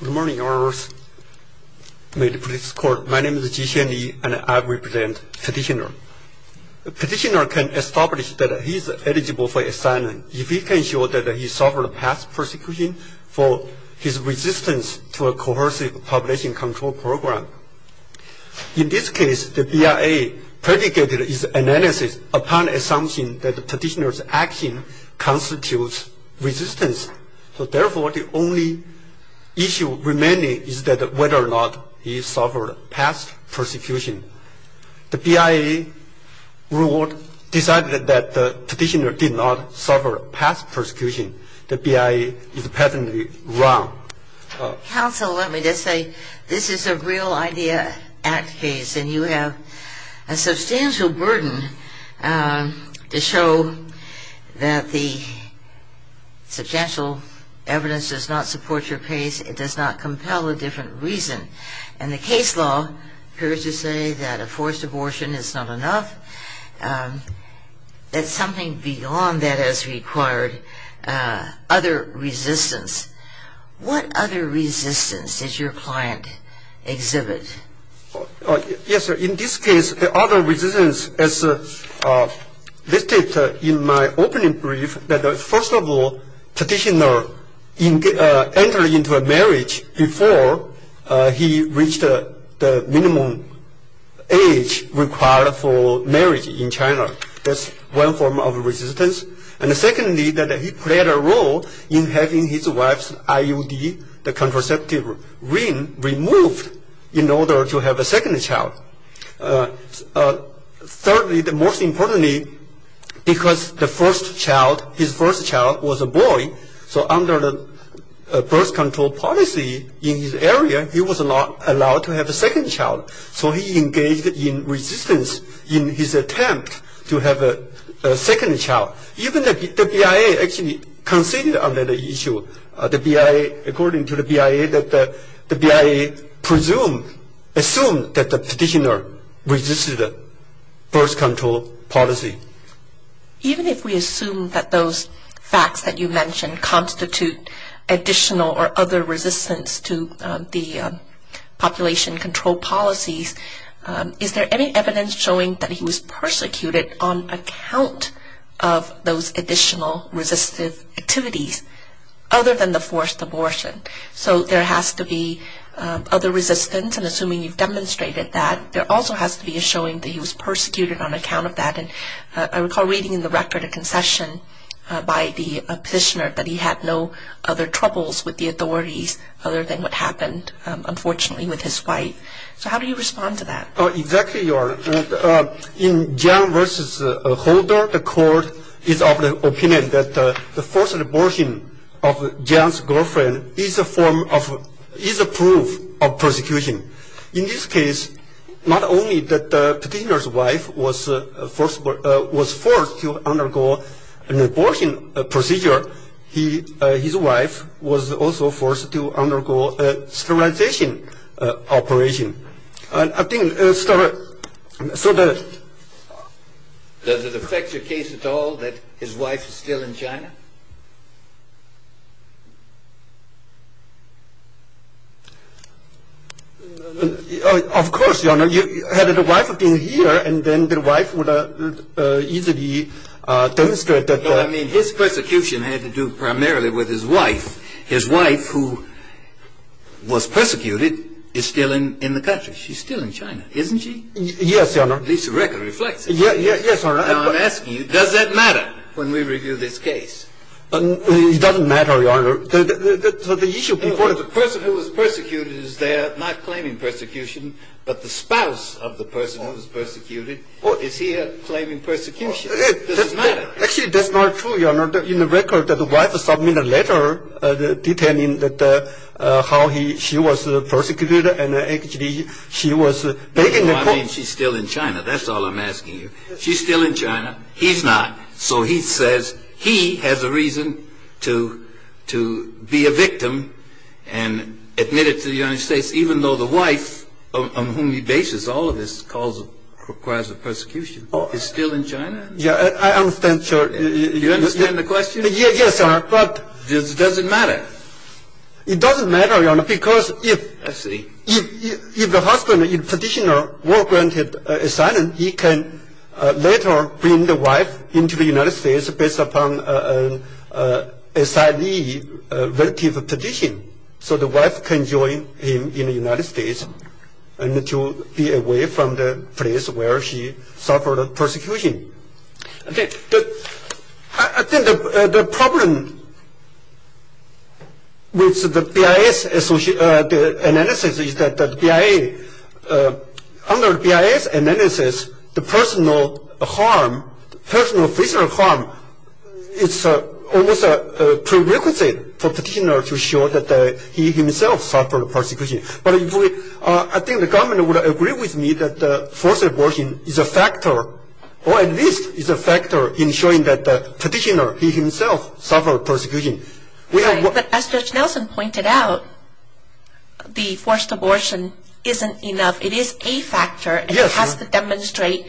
Good morning, my name is Jixian Li and I represent Petitioner. Petitioner can establish that he is eligible for asylum if he can show that he suffered past persecution for his resistance to a coercive population control program. In this case, the BIA predicated his analysis upon the assumption that Petitioner's action constitutes resistance. Therefore, the only issue remaining is that whether or not he suffered past persecution. The BIA ruled, decided that Petitioner did not suffer past persecution. The BIA is patently wrong. Counsel, let me just say, this is a real idea act case and you have a substantial burden to show that the substantial evidence does not support your case. It does not compel a different reason. And the case law appears to say that a forced abortion is not enough. That something beyond that is required. Other resistance. What other resistance does your client exhibit? Yes, sir. In this case, the other resistance as listed in my opening brief, that first of all, Petitioner entered into a marriage before he reached the minimum age required for marriage in China. That's one form of resistance. And secondly, that he played a role in having his wife's IUD, the contraceptive ring, removed in order to have a second child. Thirdly, most importantly, because the first child, his first child was a boy, so under the birth control policy in his area, he was not allowed to have a second child. So he engaged in resistance in his attempt to have a second child. Even the BIA actually conceded on that issue. According to the BIA, the BIA assumed that the Petitioner resisted birth control policy. Even if we assume that those facts that you mentioned constitute additional or other resistance to the population control policies, is there any evidence showing that he was persecuted on account of those additional resistive activities other than the forced abortion? So there has to be other resistance, and assuming you've demonstrated that, there also has to be a showing that he was persecuted on account of that. And I recall reading in the record a concession by the Petitioner that he had no other troubles with the authorities other than what happened, unfortunately, with his wife. So how do you respond to that? Exactly, Your Honor. In John v. Holder, the court is of the opinion that the forced abortion of John's girlfriend is a form of, is a proof of persecution. In this case, not only that the Petitioner's wife was forced to undergo an abortion procedure, his wife was also forced to undergo a sterilization operation. Does it affect your case at all that his wife is still in China? Of course, Your Honor. Had the wife been here, then the wife would have easily demonstrated that... I mean, his persecution had to do primarily with his wife. His wife, who was persecuted, is still in the country. She's still in China, isn't she? Yes, Your Honor. At least the record reflects it. Yes, Your Honor. Now, I'm asking you, does that matter when we review this case? It doesn't matter, Your Honor. The issue before... The person who was persecuted is there not claiming persecution, but the spouse of the person who was persecuted, is here claiming persecution. It doesn't matter. Actually, that's not true, Your Honor. In the record, the wife submitted a letter detailing how she was persecuted and actually she was... I mean, she's still in China. That's all I'm asking you. She's still in China. He's not. So he says he has a reason to be a victim and admit it to the United States, even though the wife on whom he bases all of this calls... requires the persecution is still in China? Yeah, I understand, sir. You understand the question? Yes, sir, but... Does it matter? It doesn't matter, Your Honor, because if... I see. If the husband, the petitioner, were granted asylum, he can later bring the wife into the United States based upon an asylum-relative petition, so the wife can join him in the United States and to be away from the place where she suffered persecution. I think the problem with the BIA's analysis is that the BIA... under the BIA's analysis, the personal harm, personal physical harm, it's almost a prerequisite for the petitioner to show that he himself suffered persecution. But if we... I think the government would agree with me that forced abortion is a factor, or at least is a factor, in showing that the petitioner, he himself, suffered persecution. Right, but as Judge Nelson pointed out, the forced abortion isn't enough. It is a factor, and it has to demonstrate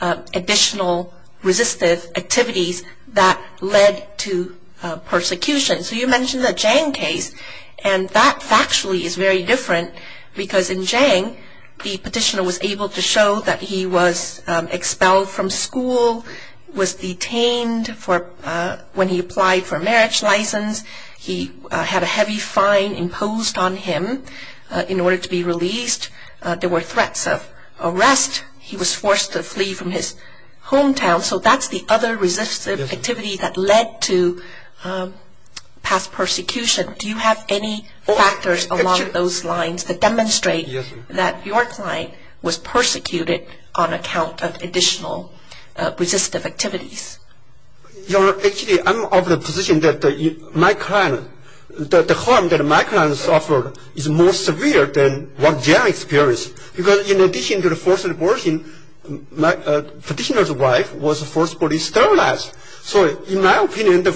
additional resistive activities that led to persecution. So you mentioned the Zhang case, and that factually is very different because in Zhang, the petitioner was able to show that he was expelled from school, was detained when he applied for a marriage license, he had a heavy fine imposed on him in order to be released, there were threats of arrest, he was forced to flee from his hometown, so that's the other resistive activity that led to past persecution. Do you have any factors along those lines that demonstrate that your client was persecuted on account of additional resistive activities? Your Honor, actually I'm of the position that my client, the harm that my client suffered is more severe than what Zhang experienced. Because in addition to the forced abortion, the petitioner's wife was forcibly sterilized. So in my opinion, the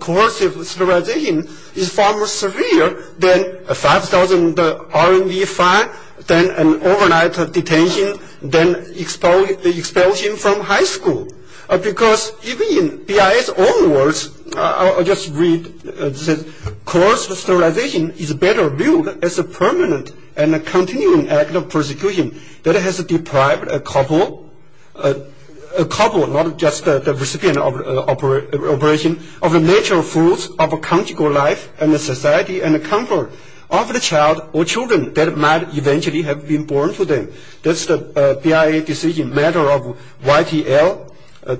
coercive sterilization is far more severe than a 5,000 RMB fine, then an overnight detention, then the expulsion from high school. Because even in BIA's own words, I'll just read, coercive sterilization is better viewed as a permanent and continuing act of persecution that has deprived a couple, not just the recipient of an operation, of the natural foods of a comfortable life and a society and a comfort of the child or children that might eventually have been born to them. That's the BIA decision, matter of YTL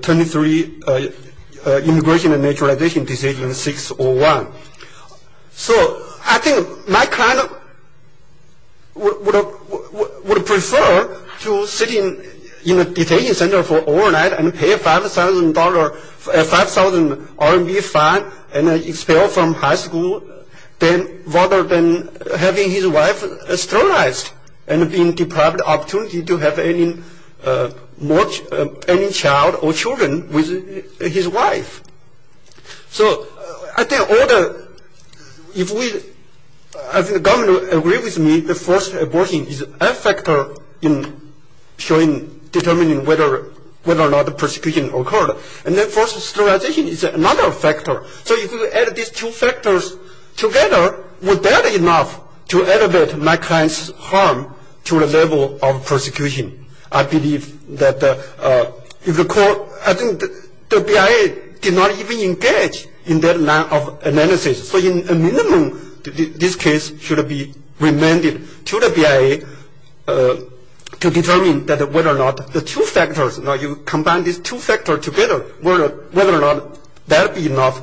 23, Immigration and Naturalization Decision 601. So I think my client would prefer to sit in a detention center for overnight and pay a 5,000 RMB fine and expel from high school rather than having his wife sterilized and being deprived of the opportunity to have any child or children with his wife. So I think all the, if we, if the government agrees with me, the forced abortion is a factor in determining whether or not the persecution occurred. And then forced sterilization is another factor. So if you add these two factors together, would that be enough to elevate my client's harm to the level of persecution? I believe that if the court, I think the BIA did not even engage in that line of analysis. So in a minimum, this case should be remanded to the BIA to determine whether or not the two factors, now you combine these two factors together, whether or not that would be enough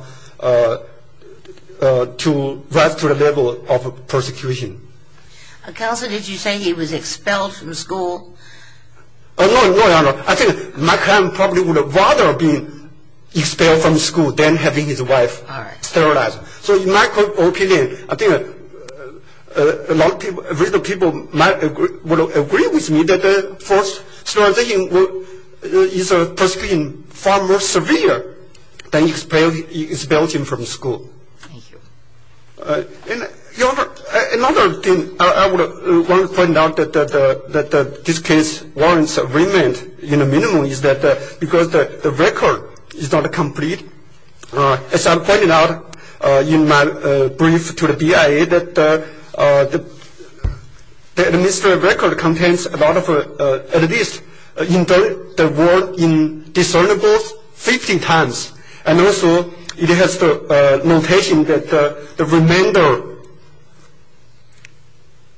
to rise to the level of persecution. Counselor, did you say he was expelled from school? No, Your Honor. I think my client probably would have rather been expelled from school than having his wife sterilized. So in my opinion, I think a lot of people, a lot of people would agree with me that forced sterilization is a persecution far more severe than expelling him from school. Thank you. Your Honor, another thing I want to point out that this case warrants remand in a minimum is that because the record is not complete, as I pointed out in my brief to the BIA, that the administrative record contains a lot of, at least, the word indiscernible 15 times, and also it has the notation that the remainder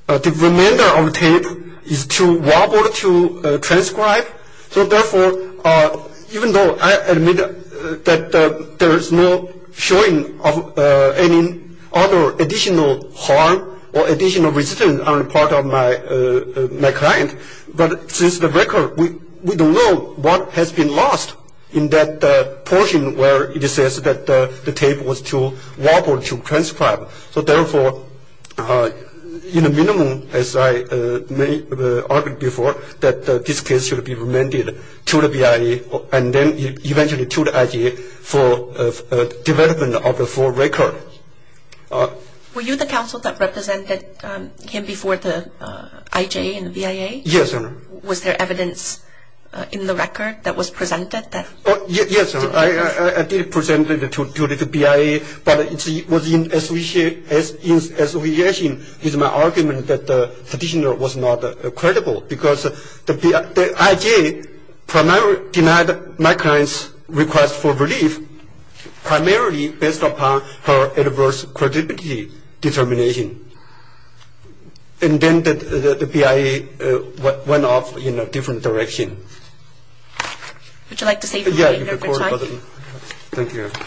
of the tape is too wobbly to transcribe. So therefore, even though I admit that there is no showing of any other additional harm or additional resistance on the part of my client, but since the record, we don't know what has been lost in that portion where it says that the tape was too wobbly to transcribe. So therefore, in a minimum, as I argued before, that this case should be remanded to the BIA and then eventually to the IJA for development of the full record. Were you the counsel that represented him before the IJA and the BIA? Yes, Your Honor. Was there evidence in the record that was presented? Yes, Your Honor. I did present it to the BIA, but it was in association with my argument that the petitioner was not credible because the IJA denied my client's request for relief primarily based upon her adverse credibility determination. And then the BIA went off in a different direction. Would you like to say something, Mr. Chen? Yes, Your Honor. Thank you, Your Honor.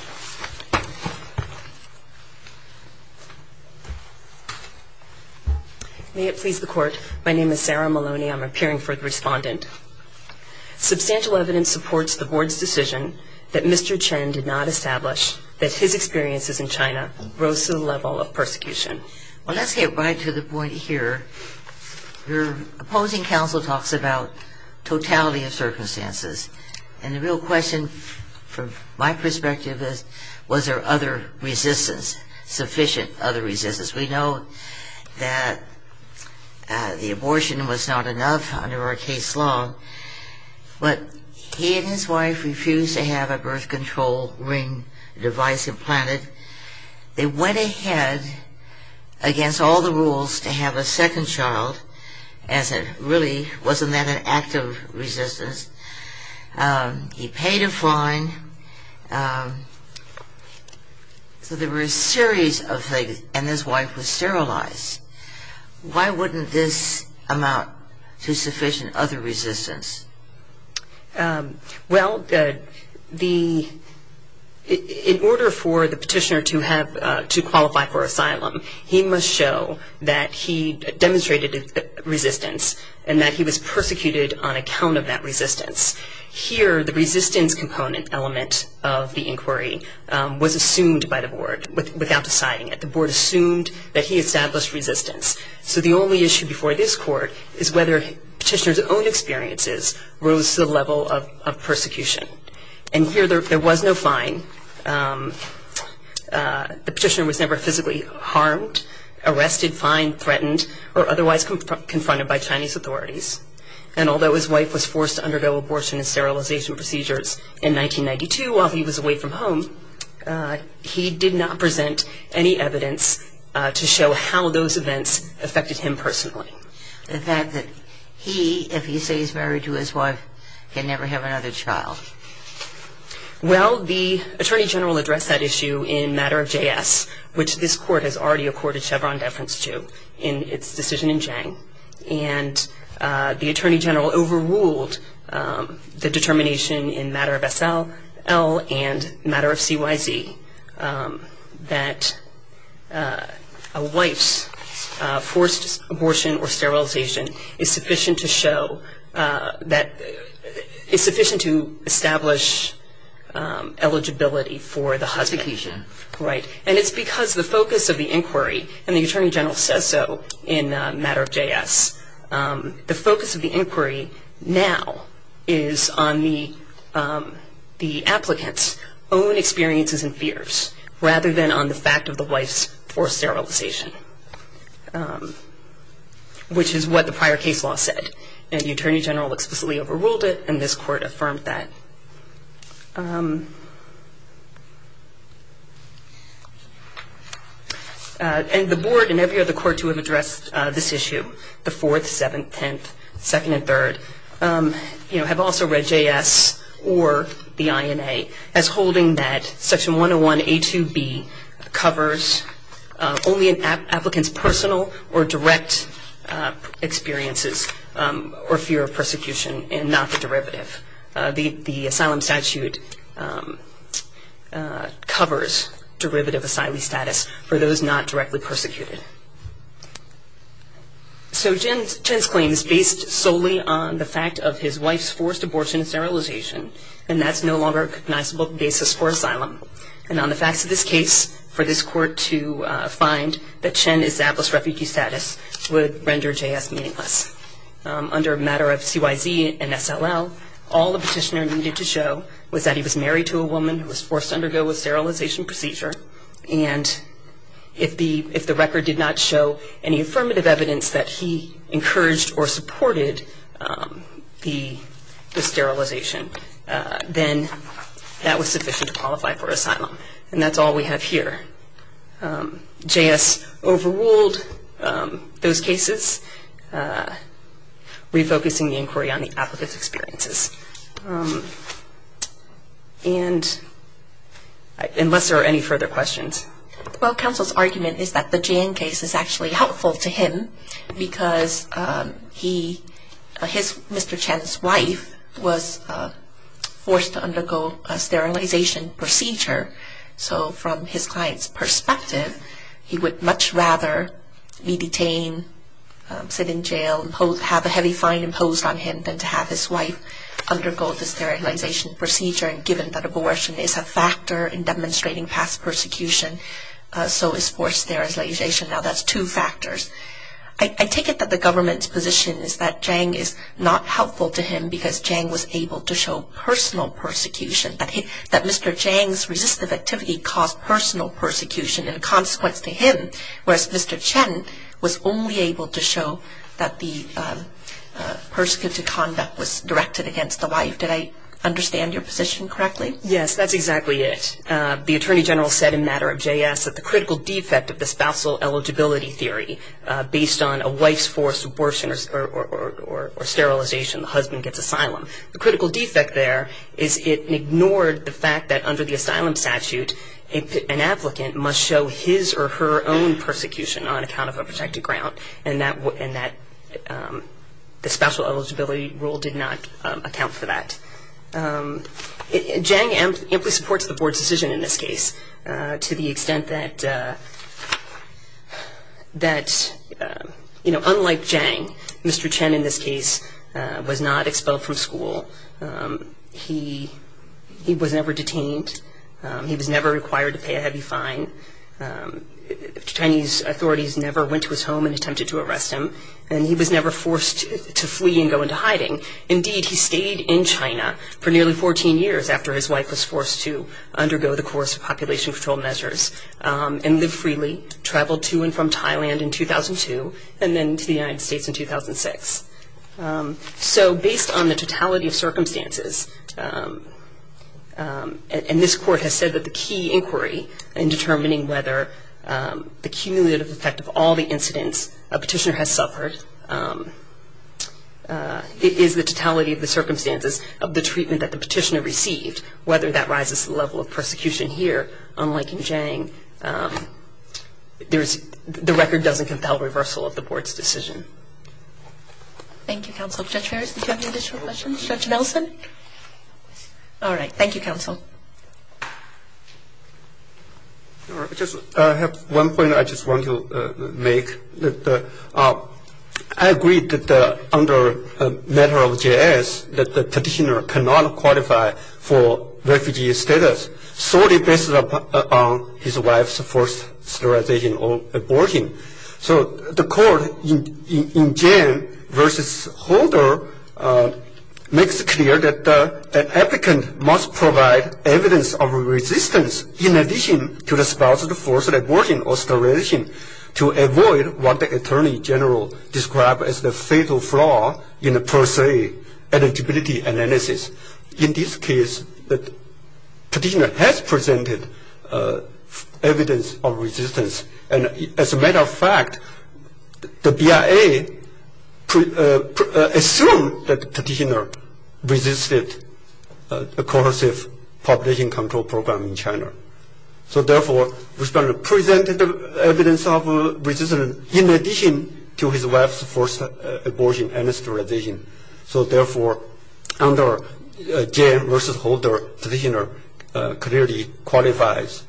May it please the Court, my name is Sarah Maloney. I'm appearing for the respondent. Substantial evidence supports the Board's decision that Mr. Chen did not establish that his experiences in China rose to the level of persecution. Well, let's get right to the point here. Your opposing counsel talks about totality of circumstances. And the real question from my perspective is, was there other resistance, sufficient other resistance? We know that the abortion was not enough under our case law, but he and his wife refused to have a birth control ring device implanted. They went ahead against all the rules to have a second child, as it really wasn't that an act of resistance. He paid a fine. So there were a series of things, and his wife was sterilized. Why wouldn't this amount to sufficient other resistance? Well, in order for the petitioner to qualify for asylum, he must show that he demonstrated resistance and that he was persecuted on account of that resistance. Here, the resistance component element of the inquiry was assumed by the Board without deciding it. The Board assumed that he established resistance. So the only issue before this court is whether petitioner's own experiences rose to the level of persecution. And here, there was no fine. The petitioner was never physically harmed, arrested, fined, threatened, or otherwise confronted by Chinese authorities. And although his wife was forced to undergo abortion and sterilization procedures in 1992 while he was away from home, he did not present any evidence to show how those events affected him personally. The fact that he, if he stays married to his wife, can never have another child. Well, the Attorney General addressed that issue in matter of JS, which this court has already accorded Chevron deference to in its decision in Chang. And the Attorney General overruled the determination in matter of SL and matter of CYZ that a wife's forced abortion or sterilization is sufficient to show that, is sufficient to establish eligibility for the husband. Persecution. Right. And it's because the focus of the inquiry, and the Attorney General says so in matter of JS, the focus of the inquiry now is on the applicant's own experiences and fears, rather than on the fact of the wife's forced sterilization, which is what the prior case law said. And the Attorney General explicitly overruled it, and this court affirmed that. And the board and every other court to have addressed this issue, the 4th, 7th, 10th, 2nd and 3rd, have also read JS or the INA as holding that Section 101A2B covers only an applicant's personal or direct experiences or fear of persecution, and not the derivative. The asylum statute covers derivative asylee status for those not directly persecuted. So Chen's claim is based solely on the fact of his wife's forced abortion and sterilization, and that's no longer a recognizable basis for asylum. And on the facts of this case, for this court to find that Chen established refugee status would render JS meaningless. Under matter of CYZ and SLL, all the petitioner needed to show was that he was married to a woman who was forced to undergo a sterilization procedure, and if the record did not show any affirmative evidence that he encouraged or supported the sterilization, then that was sufficient to qualify for asylum. And that's all we have here. JS overruled those cases, refocusing the inquiry on the applicant's experiences. And unless there are any further questions. Well, counsel's argument is that the Jan case is actually helpful to him, because he, his, Mr. Chen's wife was forced to undergo a sterilization procedure. So from his client's perspective, he would much rather be detained, sit in jail, have a heavy fine imposed on him than to have his wife undergo the sterilization procedure, and given that abortion is a factor in demonstrating past persecution, so is forced sterilization. Now, that's two factors. I take it that the government's position is that Jan is not helpful to him because Jan was able to show personal persecution, that Mr. Jan's resistive activity caused personal persecution and consequence to him, whereas Mr. Chen was only able to show that the persecutory conduct was directed against the wife. Did I understand your position correctly? Yes, that's exactly it. The attorney general said in matter of JS that the critical defect of the spousal eligibility theory, based on a wife's forced abortion or sterilization, the husband gets asylum. The critical defect there is it ignored the fact that under the asylum statute, an applicant must show his or her own persecution on account of a protected ground, and the spousal eligibility rule did not account for that. Jan amply supports the board's decision in this case to the extent that, unlike Jan, Mr. Chen in this case was not expelled from school. He was never detained. He was never required to pay a heavy fine. Chinese authorities never went to his home and attempted to arrest him, and he was never forced to flee and go into hiding. Indeed, he stayed in China for nearly 14 years after his wife was forced to undergo the course of population control measures and live freely, traveled to and from Thailand in 2002, and then to the United States in 2006. So based on the totality of circumstances, and this court has said that the key inquiry in determining whether the cumulative effect of all the incidents a petitioner has suffered is the totality of the circumstances of the treatment that the petitioner received, whether that rises to the level of persecution here, unlike in Jiang, the record doesn't compel reversal of the board's decision. Thank you, counsel. Judge Ferris, do you have any additional questions? Judge Nelson? All right. Thank you, counsel. I have one point I just want to make. I agree that under the matter of JAS that the petitioner cannot qualify for refugee status, solely based on his wife's forced sterilization or abortion. So the court in Jiang versus Holder makes it clear that an applicant must provide evidence of resistance in addition to the spouse's forced abortion or sterilization to avoid what the attorney general described as the fatal flaw in the per se eligibility analysis. In this case, the petitioner has presented evidence of resistance. And as a matter of fact, the BIA assumed that the petitioner resisted a coercive population control program in China. So therefore, the respondent presented evidence of resistance in addition to his wife's forced abortion and sterilization. So therefore, under Jiang versus Holder, the petitioner clearly qualifies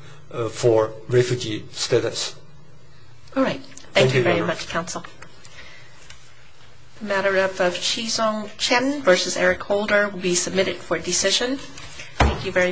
for refugee status. All right. Thank you very much, counsel. The matter of Qizong Chen versus Eric Holder will be submitted for decision. Thank you very much.